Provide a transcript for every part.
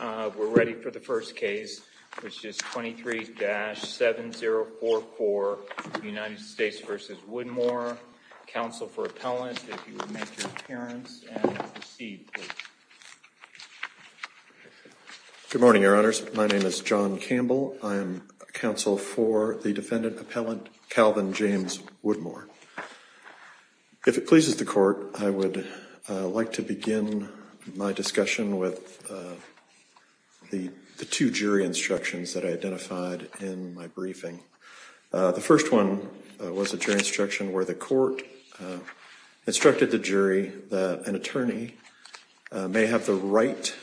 We're ready for the first case, which is 23-7044, United States v. Woodmore. Counsel for appellant, if you would make your appearance and proceed, please. Good morning, Your Honors. My name is John Campbell. I am counsel for the defendant appellant, Calvin James Woodmore. If it pleases the court, I would like to begin my discussion with the two jury instructions that I identified in my briefing. The first one was a jury instruction where the court instructed the jury that an attorney may have the right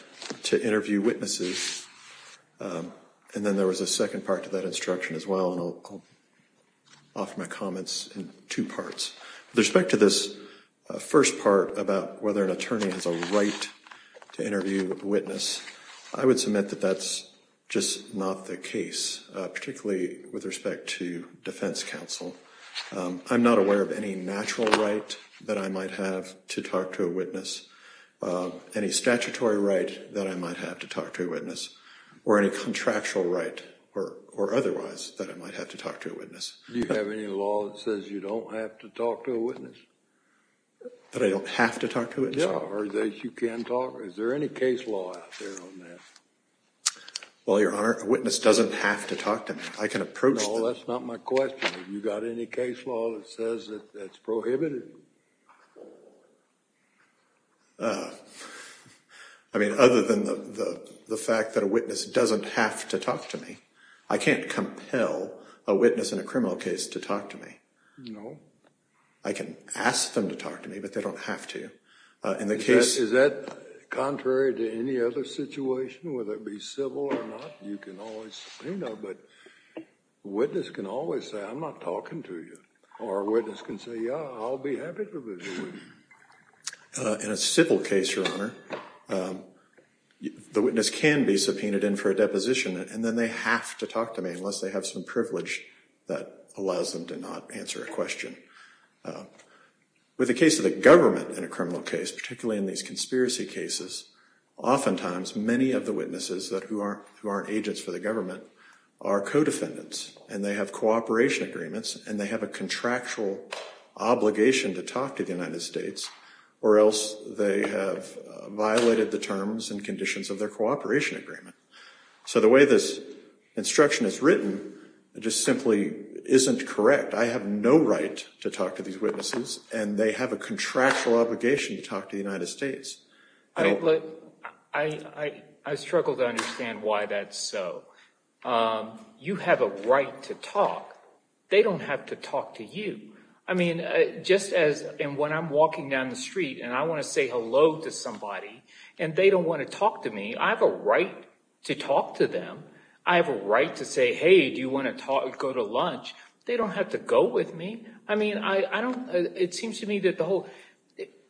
to interview witnesses. And then there was a second part to that instruction as well, and I'll offer my comments in two parts. With respect to this first part about whether an attorney has a right to interview a witness, I would submit that that's just not the case, particularly with respect to defense counsel. I'm not aware of any natural right that I might have to talk to a witness, any statutory right that I might have to talk to a witness, or any contractual right or otherwise that I might have to talk to a witness. Do you have any law that says you don't have to talk to a witness? That I don't have to talk to a witness? Yeah, or that you can talk? Is there any case law out there on that? Well, Your Honor, a witness doesn't have to talk to me. I can approach them. No, that's not my question. Have you got any case law that says that's prohibited? I mean, other than the fact that a witness doesn't have to talk to me, I can't compel a witness in a criminal case to talk to me. No. I can ask them to talk to me, but they don't have to. Is that contrary to any other situation, whether it be civil or not? You can always subpoena, but a witness can always say, I'm not talking to you. Or a witness can say, yeah, I'll be happy to visit you. In a civil case, Your Honor, the witness can be subpoenaed in for a deposition, and then they have to talk to me unless they have some privilege that allows them to not answer a question. With the case of the government in a criminal case, particularly in these conspiracy cases, oftentimes many of the witnesses who aren't agents for the government are co-defendants, and they have cooperation agreements, and they have a contractual obligation to talk to the United States, or else they have violated the terms and conditions of their cooperation agreement. So the way this instruction is written just simply isn't correct. I have no right to talk to these witnesses, and they have a contractual obligation to talk to the United States. I struggle to understand why that's so. You have a right to talk. They don't have to talk to you. I mean, just as when I'm walking down the street and I want to say hello to somebody and they don't want to talk to me, I have a right to talk to them. I have a right to say, hey, do you want to go to lunch? They don't have to go with me. I mean, I don't – it seems to me that the whole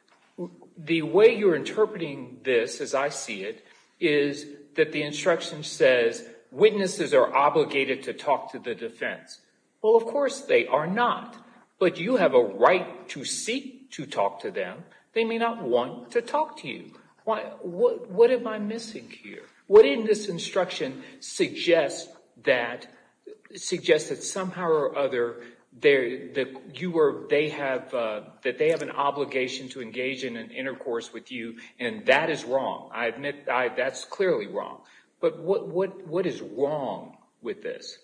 – the way you're interpreting this, as I see it, is that the instruction says witnesses are obligated to talk to the defense. Well, of course they are not, but you have a right to seek to talk to them. They may not want to talk to you. What am I missing here? What in this instruction suggests that – suggests that somehow or other you are – they have – that they have an obligation to engage in an intercourse with you, and that is wrong. I admit that's clearly wrong. But what is wrong with this?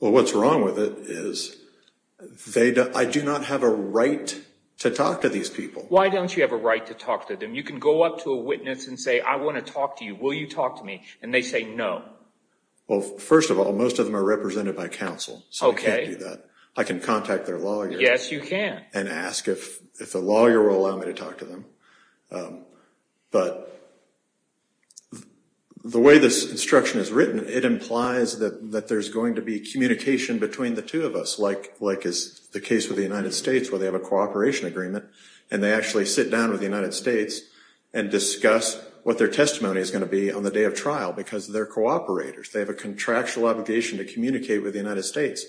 Well, what's wrong with it is they – I do not have a right to talk to these people. Why don't you have a right to talk to them? You can go up to a witness and say, I want to talk to you. Will you talk to me? And they say no. Well, first of all, most of them are represented by counsel. Okay. So I can't do that. I can contact their lawyer. Yes, you can. And ask if the lawyer will allow me to talk to them. But the way this instruction is written, it implies that there's going to be communication between the two of us, like is the case with the United States where they have a cooperation agreement and they actually sit down with the United States and discuss what their testimony is going to be on the day of trial because they're cooperators. They have a contractual obligation to communicate with the United States.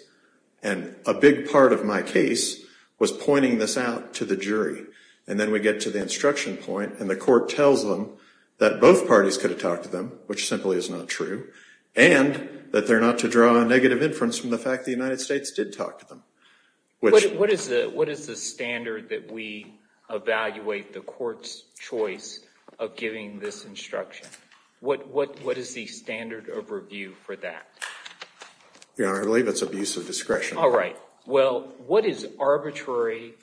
And a big part of my case was pointing this out to the jury. And then we get to the instruction point, and the court tells them that both parties could have talked to them, which simply is not true, and that they're not to draw a negative inference from the fact the United States did talk to them. What is the standard that we evaluate the court's choice of giving this instruction? What is the standard of review for that? Your Honor, I believe it's abuse of discretion. All right. Well, what is arbitrary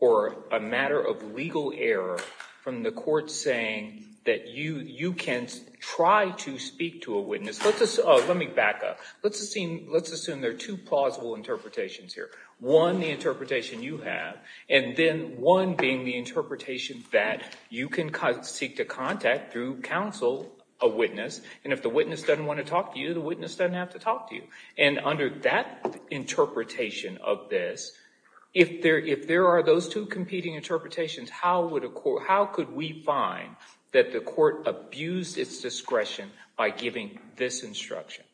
or a matter of legal error from the court saying that you can try to speak to a witness? Let me back up. Let's assume there are two plausible interpretations here, one, the interpretation you have, and then one being the interpretation that you can seek to contact through counsel a witness, and if the witness doesn't want to talk to you, the witness doesn't have to talk to you. And under that interpretation of this, if there are those two competing interpretations, how could we find that the court abused its discretion by giving this instruction?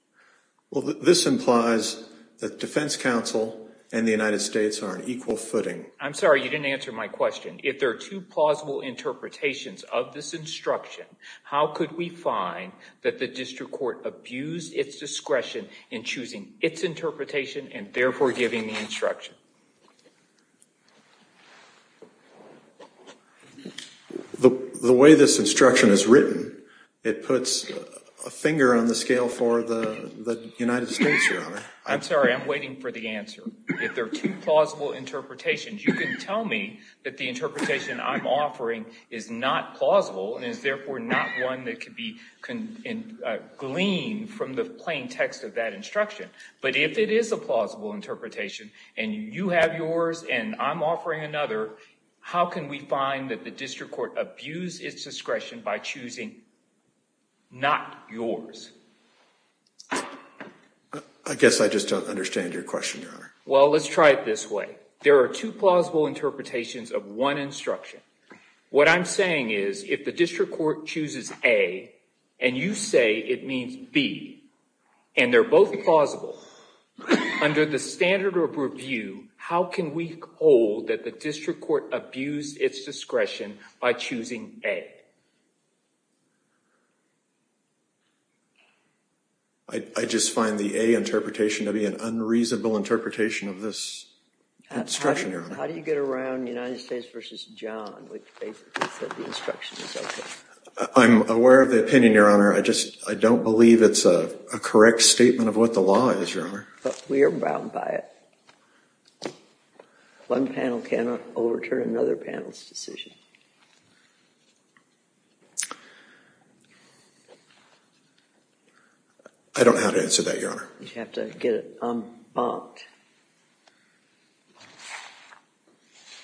Well, this implies that defense counsel and the United States are on equal footing. I'm sorry. You didn't answer my question. If there are two plausible interpretations of this instruction, how could we find that the district court abused its discretion in choosing its interpretation and therefore giving the instruction? The way this instruction is written, it puts a finger on the scale for the United States, Your Honor. I'm sorry. I'm waiting for the answer. If there are two plausible interpretations, you can tell me that the interpretation I'm offering is not plausible and is therefore not one that could be gleaned from the plain text of that instruction. But if it is a plausible interpretation and you have yours and I'm offering another, how can we find that the district court abused its discretion by choosing not yours? I guess I just don't understand your question, Your Honor. Well, let's try it this way. There are two plausible interpretations of one instruction. What I'm saying is if the district court chooses A and you say it means B and they're both plausible, under the standard of review, how can we hold that the district court abused its discretion by choosing A? I just find the A interpretation to be an unreasonable interpretation of this instruction, Your Honor. How do you get around United States v. John, which basically said the instruction was okay? Your Honor, I don't believe it's a correct statement of what the law is, Your Honor. But we are bound by it. One panel cannot overturn another panel's decision. I don't know how to answer that, Your Honor. You have to get it unbunked.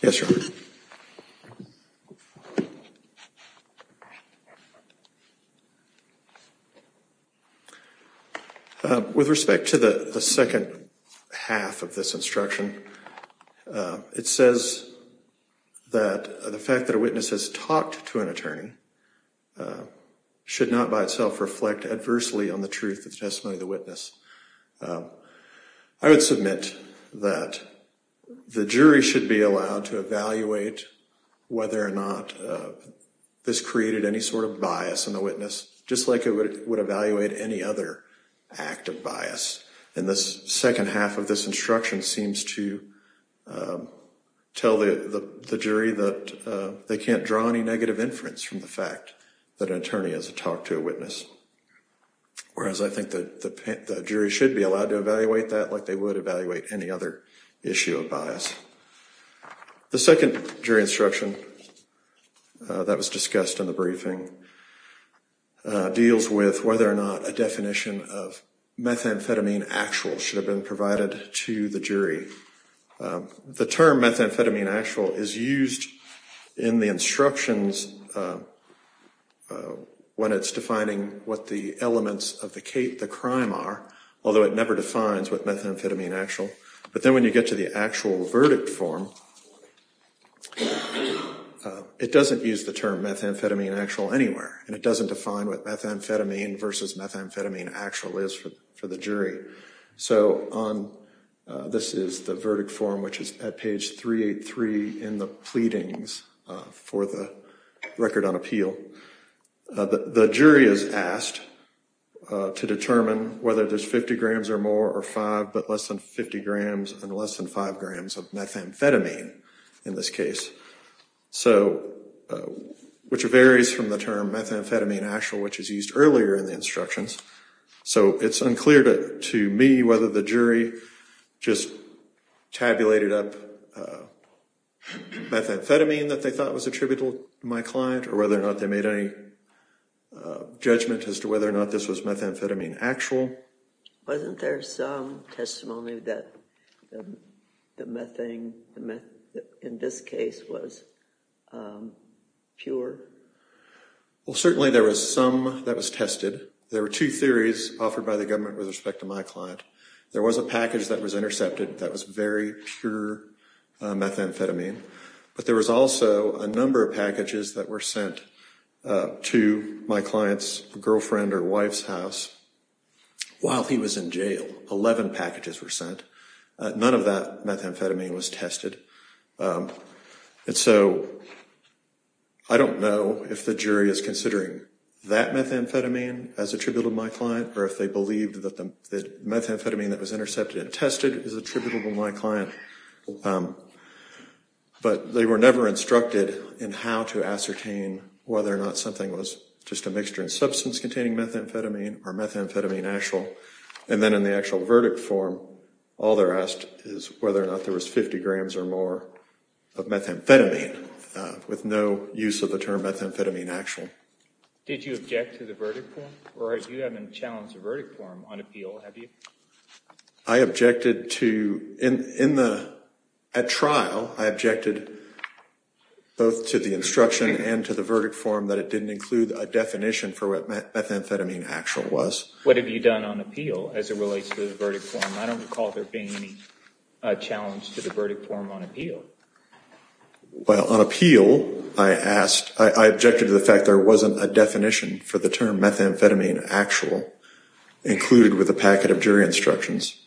Yes, Your Honor. With respect to the second half of this instruction, it says that the fact that a witness has talked to an attorney should not by itself reflect adversely on the truth of the testimony of the witness. I would submit that the jury should be allowed to evaluate whether or not this created any sort of bias in the witness, just like it would evaluate any other act of bias. And the second half of this instruction seems to tell the jury that they can't draw any negative inference from the fact that an attorney has talked to a witness. Whereas I think the jury should be allowed to evaluate that like they would evaluate any other issue of bias. The second jury instruction that was discussed in the briefing deals with whether or not a definition of methamphetamine actual should have been provided to the jury. The term methamphetamine actual is used in the instructions when it's defining what the elements of the crime are, although it never defines what methamphetamine actual. But then when you get to the actual verdict form, it doesn't use the term methamphetamine actual anywhere. And it doesn't define what methamphetamine versus methamphetamine actual is for the jury. So this is the verdict form, which is at page 383 in the pleadings for the record on appeal. The jury is asked to determine whether there's 50 grams or more or 5, but less than 50 grams and less than 5 grams of methamphetamine in this case. So, which varies from the term methamphetamine actual, which is used earlier in the instructions. So it's unclear to me whether the jury just tabulated up methamphetamine that they thought was attributable to my client or whether or not they made any judgment as to whether or not this was methamphetamine actual. Wasn't there some testimony that the methane in this case was pure? Well, certainly there was some that was tested. There were two theories offered by the government with respect to my client. There was a package that was intercepted that was very pure methamphetamine. But there was also a number of packages that were sent to my client's girlfriend or wife's house while he was in jail. Eleven packages were sent. None of that methamphetamine was tested. And so, I don't know if the jury is considering that methamphetamine as attributable to my client or if they believed that the methamphetamine that was intercepted and tested is attributable to my client. But they were never instructed in how to ascertain whether or not something was just a mixture in substance containing methamphetamine or methamphetamine actual. And then in the actual verdict form, all they're asked is whether or not there was 50 grams or more of methamphetamine with no use of the term methamphetamine actual. Did you object to the verdict form? Or you haven't challenged the verdict form on appeal, have you? I objected to, in the, at trial, I objected both to the instruction and to the verdict form that it didn't include a definition for what methamphetamine actual was. What have you done on appeal as it relates to the verdict form? I don't recall there being any challenge to the verdict form on appeal. Well, on appeal, I asked, I objected to the fact there wasn't a definition for the term methamphetamine actual included with a packet of jury instructions.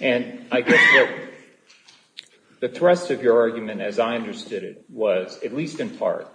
And I guess that the thrust of your argument, as I understood it, was, at least in part,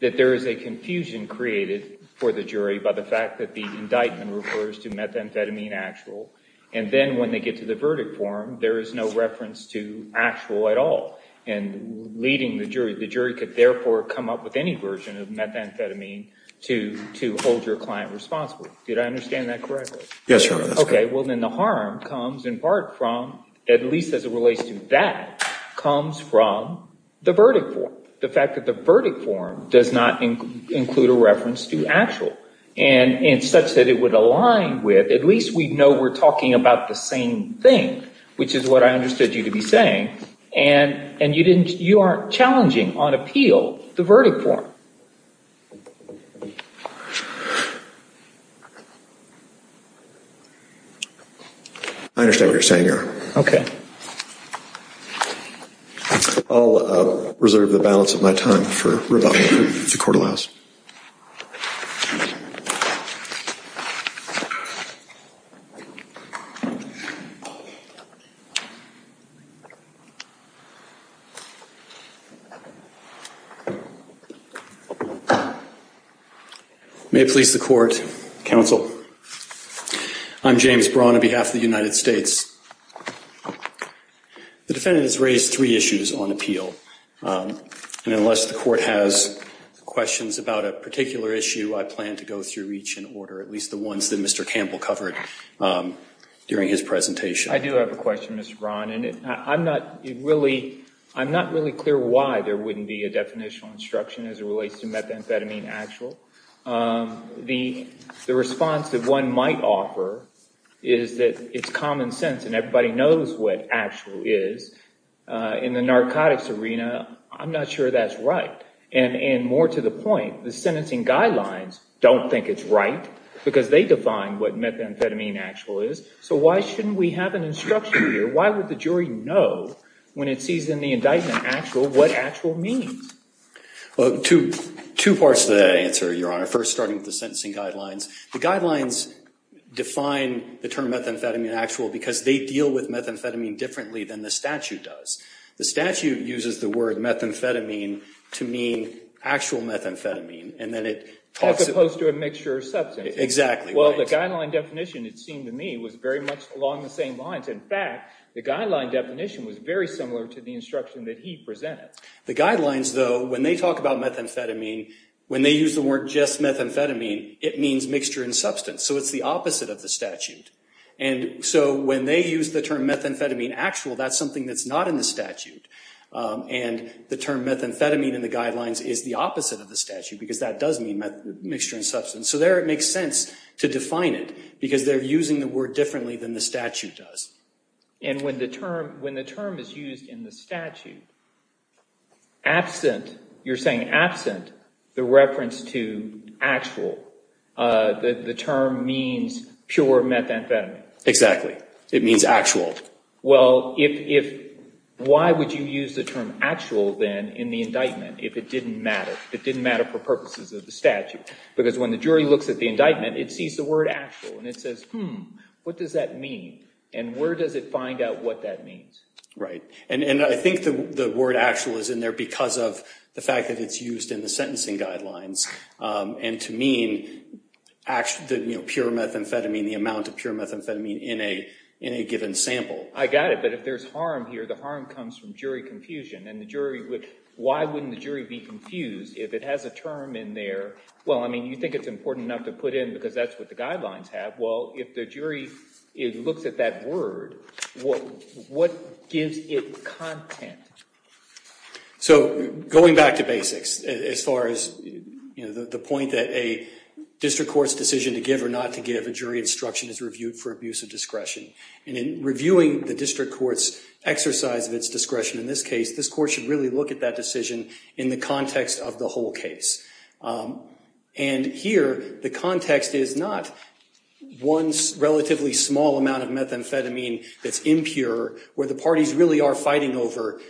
that there is a confusion created for the jury by the fact that the indictment refers to methamphetamine actual. And then when they get to the verdict form, there is no reference to actual at all. And leading the jury, the jury could therefore come up with any version of methamphetamine to hold your client responsible. Did I understand that correctly? Yes, Your Honor, that's correct. Okay, well, then the harm comes in part from, at least as it relates to that, comes from the verdict form. The fact that the verdict form does not include a reference to actual. And such that it would align with, at least we know we're talking about the same thing, which is what I understood you to be saying, and you aren't challenging on appeal the verdict form. I understand what you're saying, Your Honor. Okay. I'll reserve the balance of my time for rebuttal, if the Court allows. May it please the Court, Counsel, I'm James Braun on behalf of the United States. The defendant has raised three issues on appeal. And unless the Court has questions about a particular issue, I plan to go through each in order, at least the ones that Mr. Campbell covered during his presentation. I do have a question, Mr. Braun. And I'm not really clear why there wouldn't be a definitional instruction as it relates to methamphetamine actual. The response that one might offer is that it's common sense and everybody knows what actual is. In the narcotics arena, I'm not sure that's right. And more to the point, the sentencing guidelines don't think it's right because they define what methamphetamine actual is. So why shouldn't we have an instruction here? Why would the jury know when it sees in the indictment actual what actual means? Well, two parts to that answer, Your Honor. First, starting with the sentencing guidelines. The guidelines define the term methamphetamine actual because they deal with methamphetamine differently than the statute does. The statute uses the word methamphetamine to mean actual methamphetamine. As opposed to a mixture of substances. Exactly right. Well, the guideline definition, it seemed to me, was very much along the same lines. In fact, the guideline definition was very similar to the instruction that he presented. The guidelines, though, when they talk about methamphetamine, when they use the word just methamphetamine, it means mixture in substance. So it's the opposite of the statute. And so when they use the term methamphetamine actual, that's something that's not in the statute. And the term methamphetamine in the guidelines is the opposite of the statute because that does mean mixture in substance. So there it makes sense to define it because they're using the word differently than the statute does. And when the term is used in the statute, absent, you're saying absent, the reference to actual, the term means pure methamphetamine. Exactly. It means actual. Well, why would you use the term actual then in the indictment if it didn't matter, if it didn't matter for purposes of the statute? Because when the jury looks at the indictment, it sees the word actual and it says, hmm, what does that mean? And where does it find out what that means? Right. And I think the word actual is in there because of the fact that it's used in the sentencing guidelines. And to mean pure methamphetamine, the amount of pure methamphetamine in a given sample. I got it. But if there's harm here, the harm comes from jury confusion. And the jury would, why wouldn't the jury be confused if it has a term in there? Well, I mean, you think it's important enough to put in because that's what the guidelines have. Well, if the jury looks at that word, what gives it content? So going back to basics, as far as the point that a district court's decision to give or not to give a jury instruction is reviewed for abuse of discretion. And in reviewing the district court's exercise of its discretion in this case, this court should really look at that decision in the context of the whole case. And here, the context is not one relatively small amount of methamphetamine that's impure, where the parties really are fighting over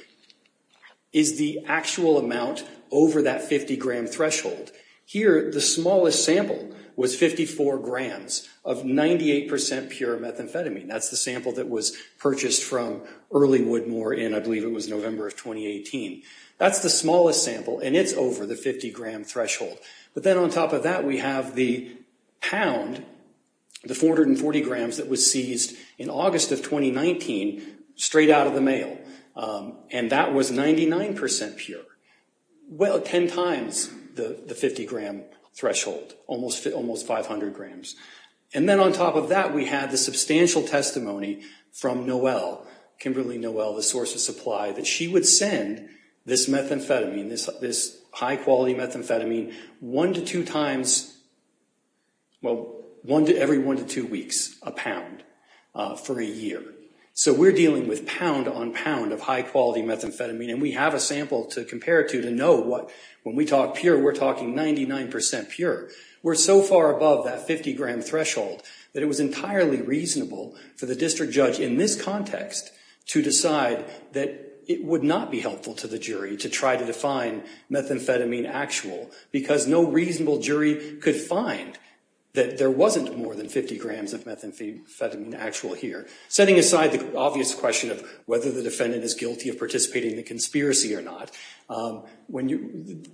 is the actual amount over that 50 gram threshold. Here, the smallest sample was 54 grams of 98 percent pure methamphetamine. That's the sample that was purchased from Early Woodmore, and I believe it was November of 2018. That's the smallest sample, and it's over the 50 gram threshold. But then on top of that, we have the pound, the 440 grams that was seized in August of 2019 straight out of the mail. And that was 99 percent pure. Well, 10 times the 50 gram threshold, almost 500 grams. And then on top of that, we have the substantial testimony from Noel, Kimberly Noel, the source of supply, that she would send this methamphetamine, this high-quality methamphetamine, one to two times, well, every one to two weeks, a pound for a year. So we're dealing with pound on pound of high-quality methamphetamine, and we have a sample to compare it to to know what, when we talk pure, we're talking 99 percent pure. We're so far above that 50 gram threshold that it was entirely reasonable for the district judge, in this context, to decide that it would not be helpful to the jury to try to define methamphetamine actual, because no reasonable jury could find that there wasn't more than 50 grams of methamphetamine actual here. Setting aside the obvious question of whether the defendant is guilty of participating in the conspiracy or not,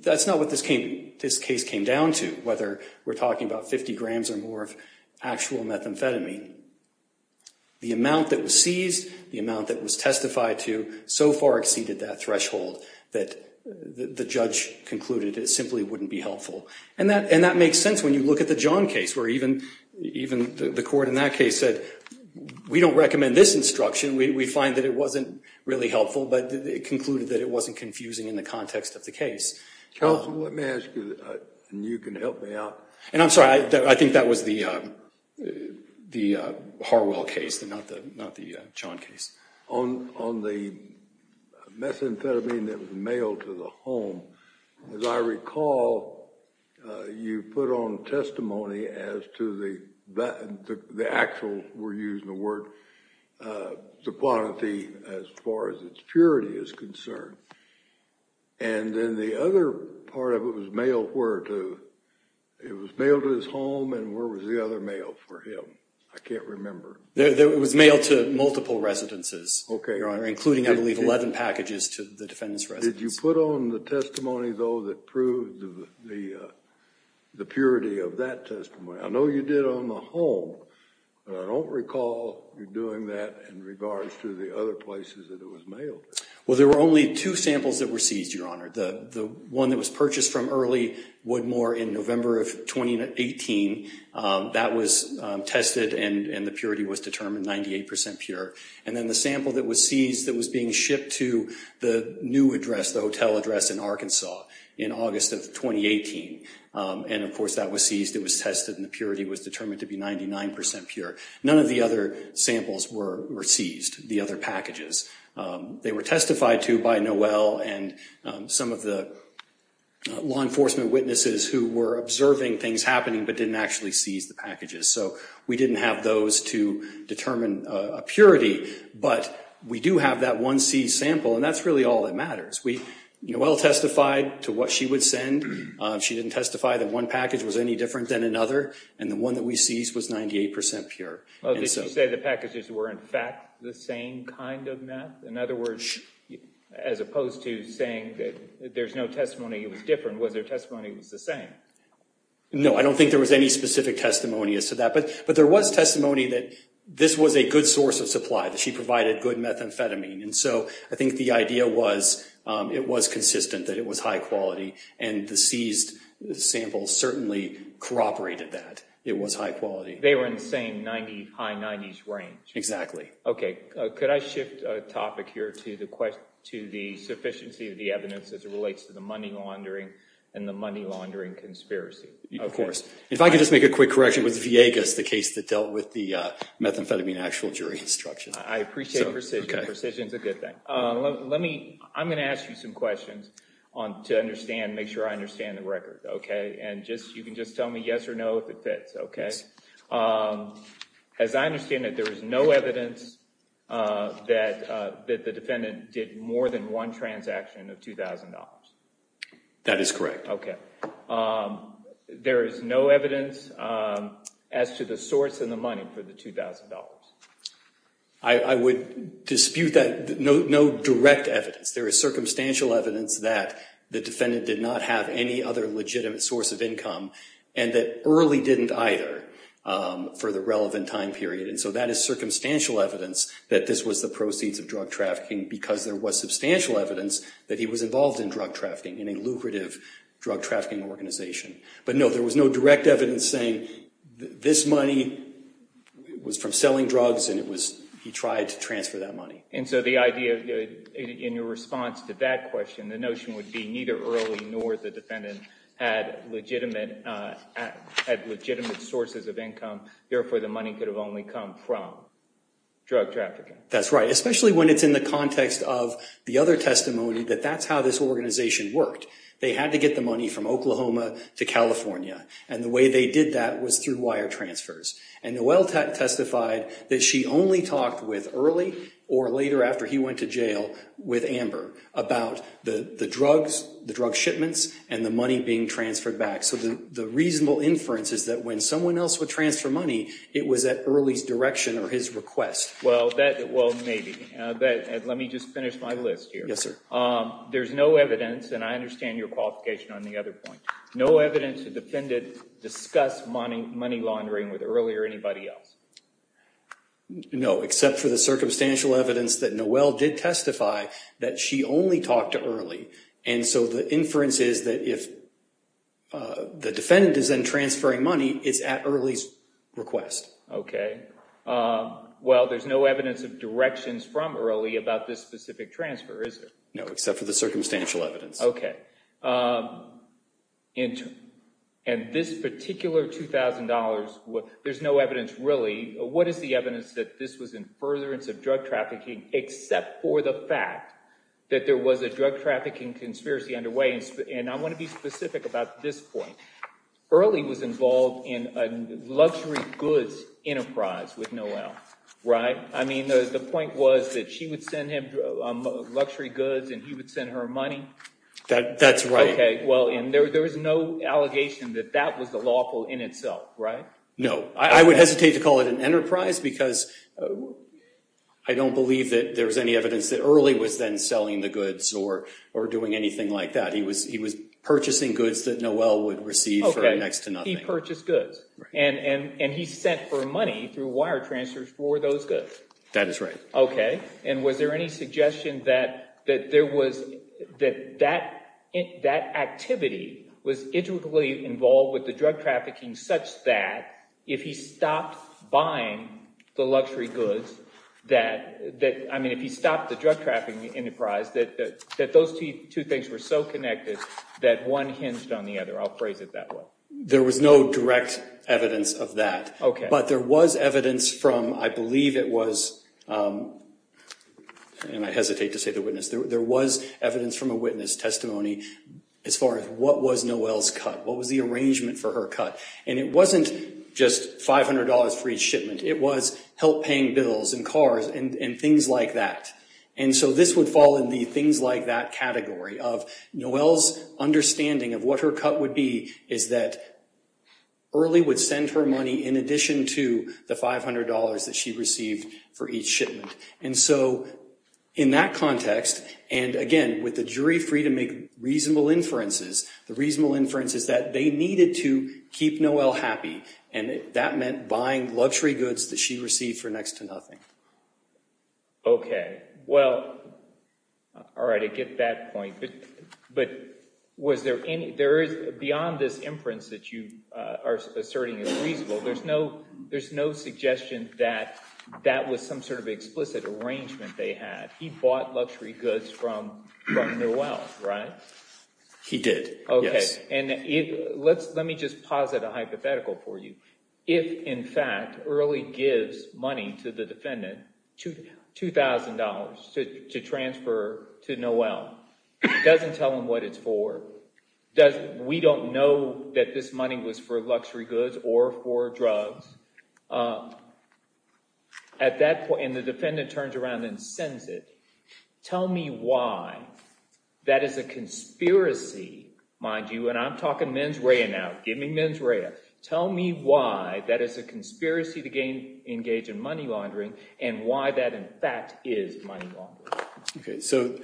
that's not what this case came down to, whether we're talking about 50 grams or more of actual methamphetamine. The amount that was seized, the amount that was testified to, so far exceeded that threshold that the judge concluded it simply wouldn't be helpful. And that makes sense when you look at the John case, where even the court in that case said, we don't recommend this instruction, we find that it wasn't really helpful, but it concluded that it wasn't confusing in the context of the case. Counsel, let me ask you, and you can help me out. And I'm sorry, I think that was the Harwell case, not the John case. On the methamphetamine that was mailed to the home, as I recall, you put on testimony as to the actual, we're using the word, the quantity as far as its purity is concerned. And then the other part of it was mailed where to? It was mailed to his home, and where was the other mail for him? I can't remember. It was mailed to multiple residences, including, I believe, 11 packages to the defendant's residence. Did you put on the testimony, though, that proved the purity of that testimony? I know you did on the home, but I don't recall you doing that in regards to the other places that it was mailed. Well, there were only two samples that were seized, Your Honor. The one that was purchased from Early Woodmore in November of 2018, that was tested, and the purity was determined 98 percent pure. And then the sample that was seized that was being shipped to the new address, the hotel address in Arkansas, in August of 2018. And, of course, that was seized, it was tested, and the purity was determined to be 99 percent pure. None of the other samples were seized, the other packages. They were testified to by Noel and some of the law enforcement witnesses who were observing things happening but didn't actually seize the packages. So we didn't have those to determine a purity, but we do have that one seized sample, and that's really all that matters. Noel testified to what she would send. She didn't testify that one package was any different than another, and the one that we seized was 98 percent pure. Oh, did you say the packages were, in fact, the same kind of meth? In other words, as opposed to saying that there's no testimony it was different, was there testimony it was the same? No, I don't think there was any specific testimony as to that. But there was testimony that this was a good source of supply, that she provided good methamphetamine. And so I think the idea was it was consistent, that it was high quality, and the seized samples certainly corroborated that it was high quality. They were in the same 90s, high 90s range? Exactly. Okay. Could I shift a topic here to the question, to the sufficiency of the evidence as it relates to the money laundering and the money laundering conspiracy? Of course. If I could just make a quick correction, it was Viegas, the case that dealt with the methamphetamine actual jury instruction. I appreciate precision. Precision's a good thing. Let me, I'm going to ask you some questions to understand, make sure I understand the record, okay? And just, you can just tell me yes or no if it fits, okay? Yes. As I understand it, there is no evidence that the defendant did more than one transaction of $2,000. That is correct. Okay. There is no evidence as to the source and the money for the $2,000? I would dispute that, no direct evidence. There is circumstantial evidence that the defendant did not have any other legitimate source of income and that early didn't either for the relevant time period. And so that is circumstantial evidence that this was the proceeds of drug trafficking because there was substantial evidence that he was involved in drug trafficking, in a lucrative drug trafficking organization. But no, there was no direct evidence saying this money was from selling drugs and it was, he tried to transfer that money. And so the idea in your response to that question, the notion would be neither early nor the defendant had legitimate sources of income, therefore the money could have only come from drug trafficking. That's right. Especially when it's in the context of the other testimony that that's how this organization worked. They had to get the money from Oklahoma to California. And the way they did that was through wire transfers. And Noel testified that she only talked with early or later after he went to jail with Amber about the drugs, the drug shipments, and the money being transferred back. So the reasonable inference is that when someone else would transfer money, it was at early's direction or his request. Well, maybe. Let me just finish my list here. Yes, sir. There's no evidence, and I understand your qualification on the other point. No evidence the defendant discussed money laundering with early or anybody else. No, except for the circumstantial evidence that Noel did testify that she only talked to early. And so the inference is that if the defendant is then transferring money, it's at early's request. Okay. Well, there's no evidence of directions from early about this specific transfer, is there? No, except for the circumstantial evidence. Okay. And this particular $2,000, there's no evidence really. What is the evidence that this was in furtherance of drug trafficking except for the fact that there was a drug trafficking conspiracy underway? And I want to be specific about this point. Early was involved in a luxury goods enterprise with Noel, right? I mean, the point was that she would send him luxury goods and he would send her money. That's right. Okay. Well, and there was no allegation that that was the lawful in itself, right? No. I would hesitate to call it an enterprise because I don't believe that there was any evidence that early was then selling the goods or doing anything like that. He was purchasing goods that Noel would receive for next to nothing. Okay. He purchased goods. Right. And he sent her money through wire transfers for those goods. That is right. Okay. And was there any suggestion that there was – that that activity was intricately involved with the drug trafficking such that if he stopped buying the luxury goods that – I mean, if he stopped the drug trafficking enterprise, that those two things were so connected that one hinged on the other. I'll phrase it that way. There was no direct evidence of that. Okay. But there was evidence from – I believe it was – and I hesitate to say the witness. There was evidence from a witness testimony as far as what was Noel's cut, what was the arrangement for her cut. And it wasn't just $500 for each shipment. It was help paying bills and cars and things like that. And so this would fall in the things like that category of Noel's understanding of what her cut would be is that Early would send her money in addition to the $500 that she received for each shipment. And so in that context and, again, with the jury free to make reasonable inferences, the reasonable inference is that they needed to keep Noel happy. And that meant buying luxury goods that she received for next to nothing. Okay. Well, all right. I get that point. But was there any – beyond this inference that you are asserting is reasonable, there's no suggestion that that was some sort of explicit arrangement they had. He bought luxury goods from Noel, right? He did, yes. Okay. And let me just posit a hypothetical for you. If, in fact, Early gives money to the defendant, $2,000, to transfer to Noel, doesn't tell him what it's for, we don't know that this money was for luxury goods or for drugs, at that point – and the defendant turns around and sends it. Tell me why that is a conspiracy, mind you. And I'm talking mens rea now. Give me mens rea. Tell me why that is a conspiracy to engage in money laundering and why that, in fact, is money laundering. Okay. So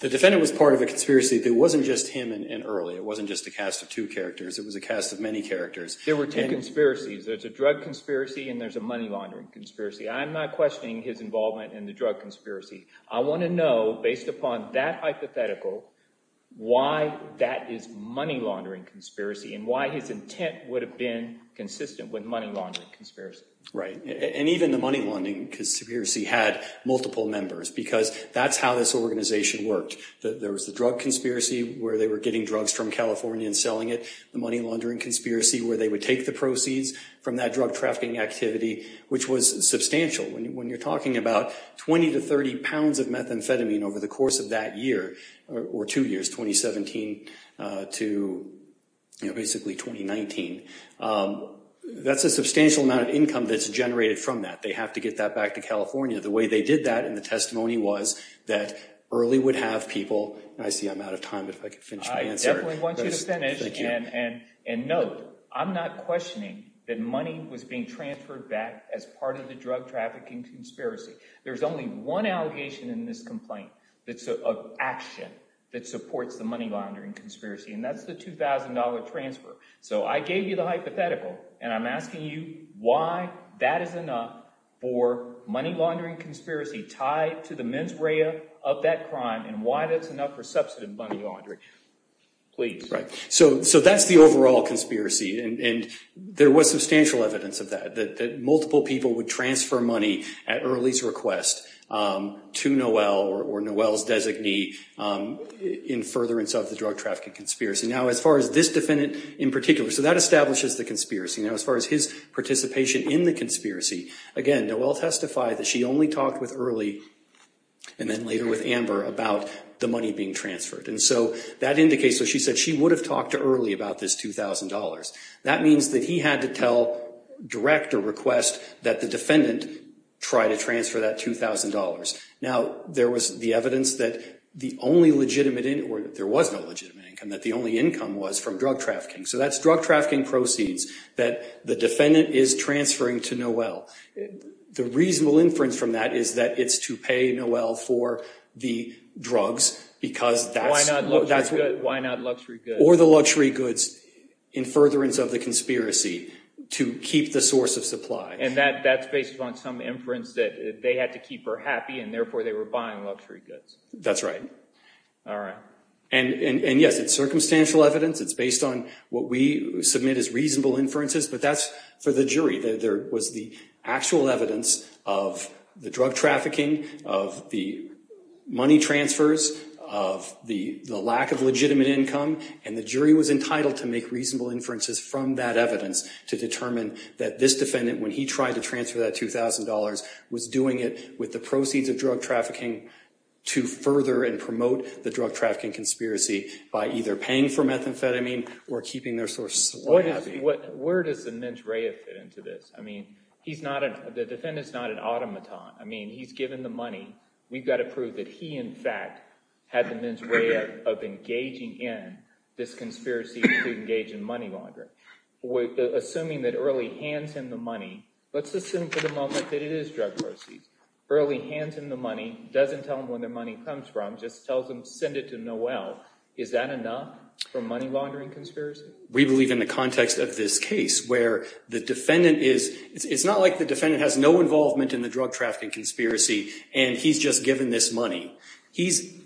the defendant was part of a conspiracy that wasn't just him and Early. It wasn't just a cast of two characters. It was a cast of many characters. There were two conspiracies. There's a drug conspiracy and there's a money laundering conspiracy. I'm not questioning his involvement in the drug conspiracy. I want to know, based upon that hypothetical, why that is money laundering conspiracy and why his intent would have been consistent with money laundering conspiracy. Right. And even the money laundering conspiracy had multiple members because that's how this organization worked. There was the drug conspiracy where they were getting drugs from California and selling it, the money laundering conspiracy where they would take the proceeds from that drug trafficking activity, which was substantial. When you're talking about 20 to 30 pounds of methamphetamine over the course of that year or two years, 2017 to basically 2019, that's a substantial amount of income that's generated from that. They have to get that back to California. The way they did that in the testimony was that Early would have people. I see I'm out of time. If I could finish my answer. I definitely want you to finish. Thank you. And no, I'm not questioning that money was being transferred back as part of the drug trafficking conspiracy. There's only one allegation in this complaint that's of action that supports the money laundering conspiracy. And that's the two thousand dollar transfer. So I gave you the hypothetical and I'm asking you why that is enough for money laundering conspiracy tied to the mens rea of that crime and why that's enough for substantive money laundering. So that's the overall conspiracy. And there was substantial evidence of that, that multiple people would transfer money at Early's request to Noel or Noel's designee in furtherance of the drug trafficking conspiracy. Now, as far as this defendant in particular, so that establishes the conspiracy. Now, as far as his participation in the conspiracy, again, Noel testified that she only talked with Early and then later with Amber about the money being transferred. And so that indicates that she said she would have talked to Early about this two thousand dollars. That means that he had to tell direct a request that the defendant try to transfer that two thousand dollars. Now, there was the evidence that the only legitimate or there was no legitimate income, that the only income was from drug trafficking. So that's drug trafficking proceeds that the defendant is transferring to Noel. The reasonable inference from that is that it's to pay Noel for the drugs because that's why not luxury goods or the luxury goods in furtherance of the conspiracy to keep the source of supply. And that that's based on some inference that they had to keep her happy and therefore they were buying luxury goods. That's right. All right. And yes, it's circumstantial evidence. It's based on what we submit as reasonable inferences. But that's for the jury. There was the actual evidence of the drug trafficking, of the money transfers, of the lack of legitimate income. And the jury was entitled to make reasonable inferences from that evidence to determine that this defendant, when he tried to transfer that two thousand dollars, was doing it with the proceeds of drug trafficking to further and promote the drug trafficking conspiracy by either paying for methamphetamine or keeping their source of supply happy. Where does the mens rea fit into this? I mean, he's not, the defendant's not an automaton. I mean, he's given the money. We've got to prove that he, in fact, had the mens rea of engaging in this conspiracy to engage in money laundering. Assuming that Early hands him the money, let's assume for the moment that it is drug proceeds. Early hands him the money, doesn't tell him where the money comes from, just tells him send it to Noel. Is that enough for money laundering conspiracy? We believe in the context of this case where the defendant is, it's not like the defendant has no involvement in the drug trafficking conspiracy and he's just given this money. He's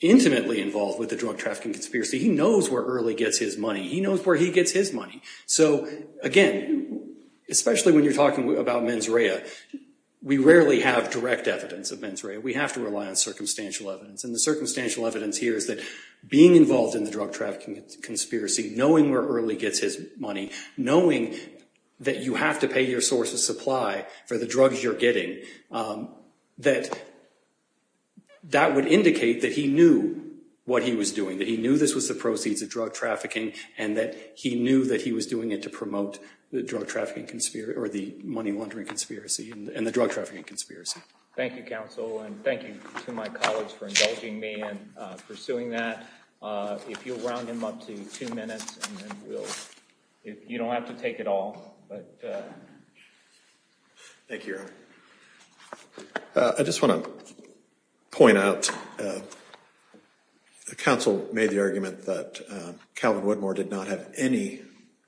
intimately involved with the drug trafficking conspiracy. He knows where Early gets his money. He knows where he gets his money. So, again, especially when you're talking about mens rea, we rarely have direct evidence of mens rea. We have to rely on circumstantial evidence. And the circumstantial evidence here is that being involved in the drug trafficking conspiracy, knowing where Early gets his money, knowing that you have to pay your source of supply for the drugs you're getting, that that would indicate that he knew what he was doing, that he knew this was the proceeds of drug trafficking and that he knew that he was doing it to promote the drug trafficking conspiracy or the money laundering conspiracy and the drug trafficking conspiracy. Thank you, counsel. And thank you to my colleagues for indulging me and pursuing that. If you'll round him up to two minutes and then we'll, you don't have to take it all. Thank you, Your Honor. I just want to point out the counsel made the argument that Calvin Woodmore did not have any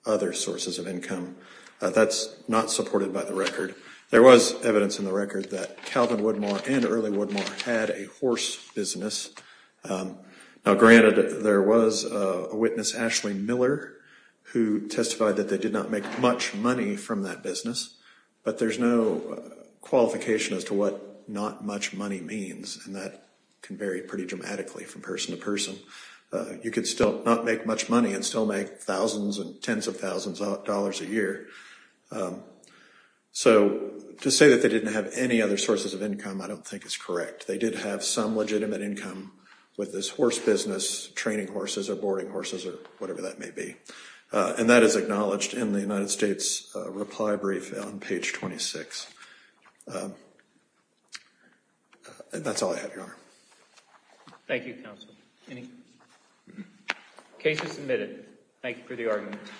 other sources of income. That's not supported by the record. There was evidence in the record that Calvin Woodmore and Early Woodmore had a horse business. Now, granted, there was a witness, Ashley Miller, who testified that they did not make much money from that business, but there's no qualification as to what not much money means, and that can vary pretty dramatically from person to person. You could still not make much money and still make thousands and tens of thousands of dollars a year. So to say that they didn't have any other sources of income I don't think is correct. They did have some legitimate income with this horse business, training horses or boarding horses or whatever that may be. And that is acknowledged in the United States reply brief on page 26. And that's all I have, Your Honor. Thank you, counsel. Case is submitted. Thank you for the argument.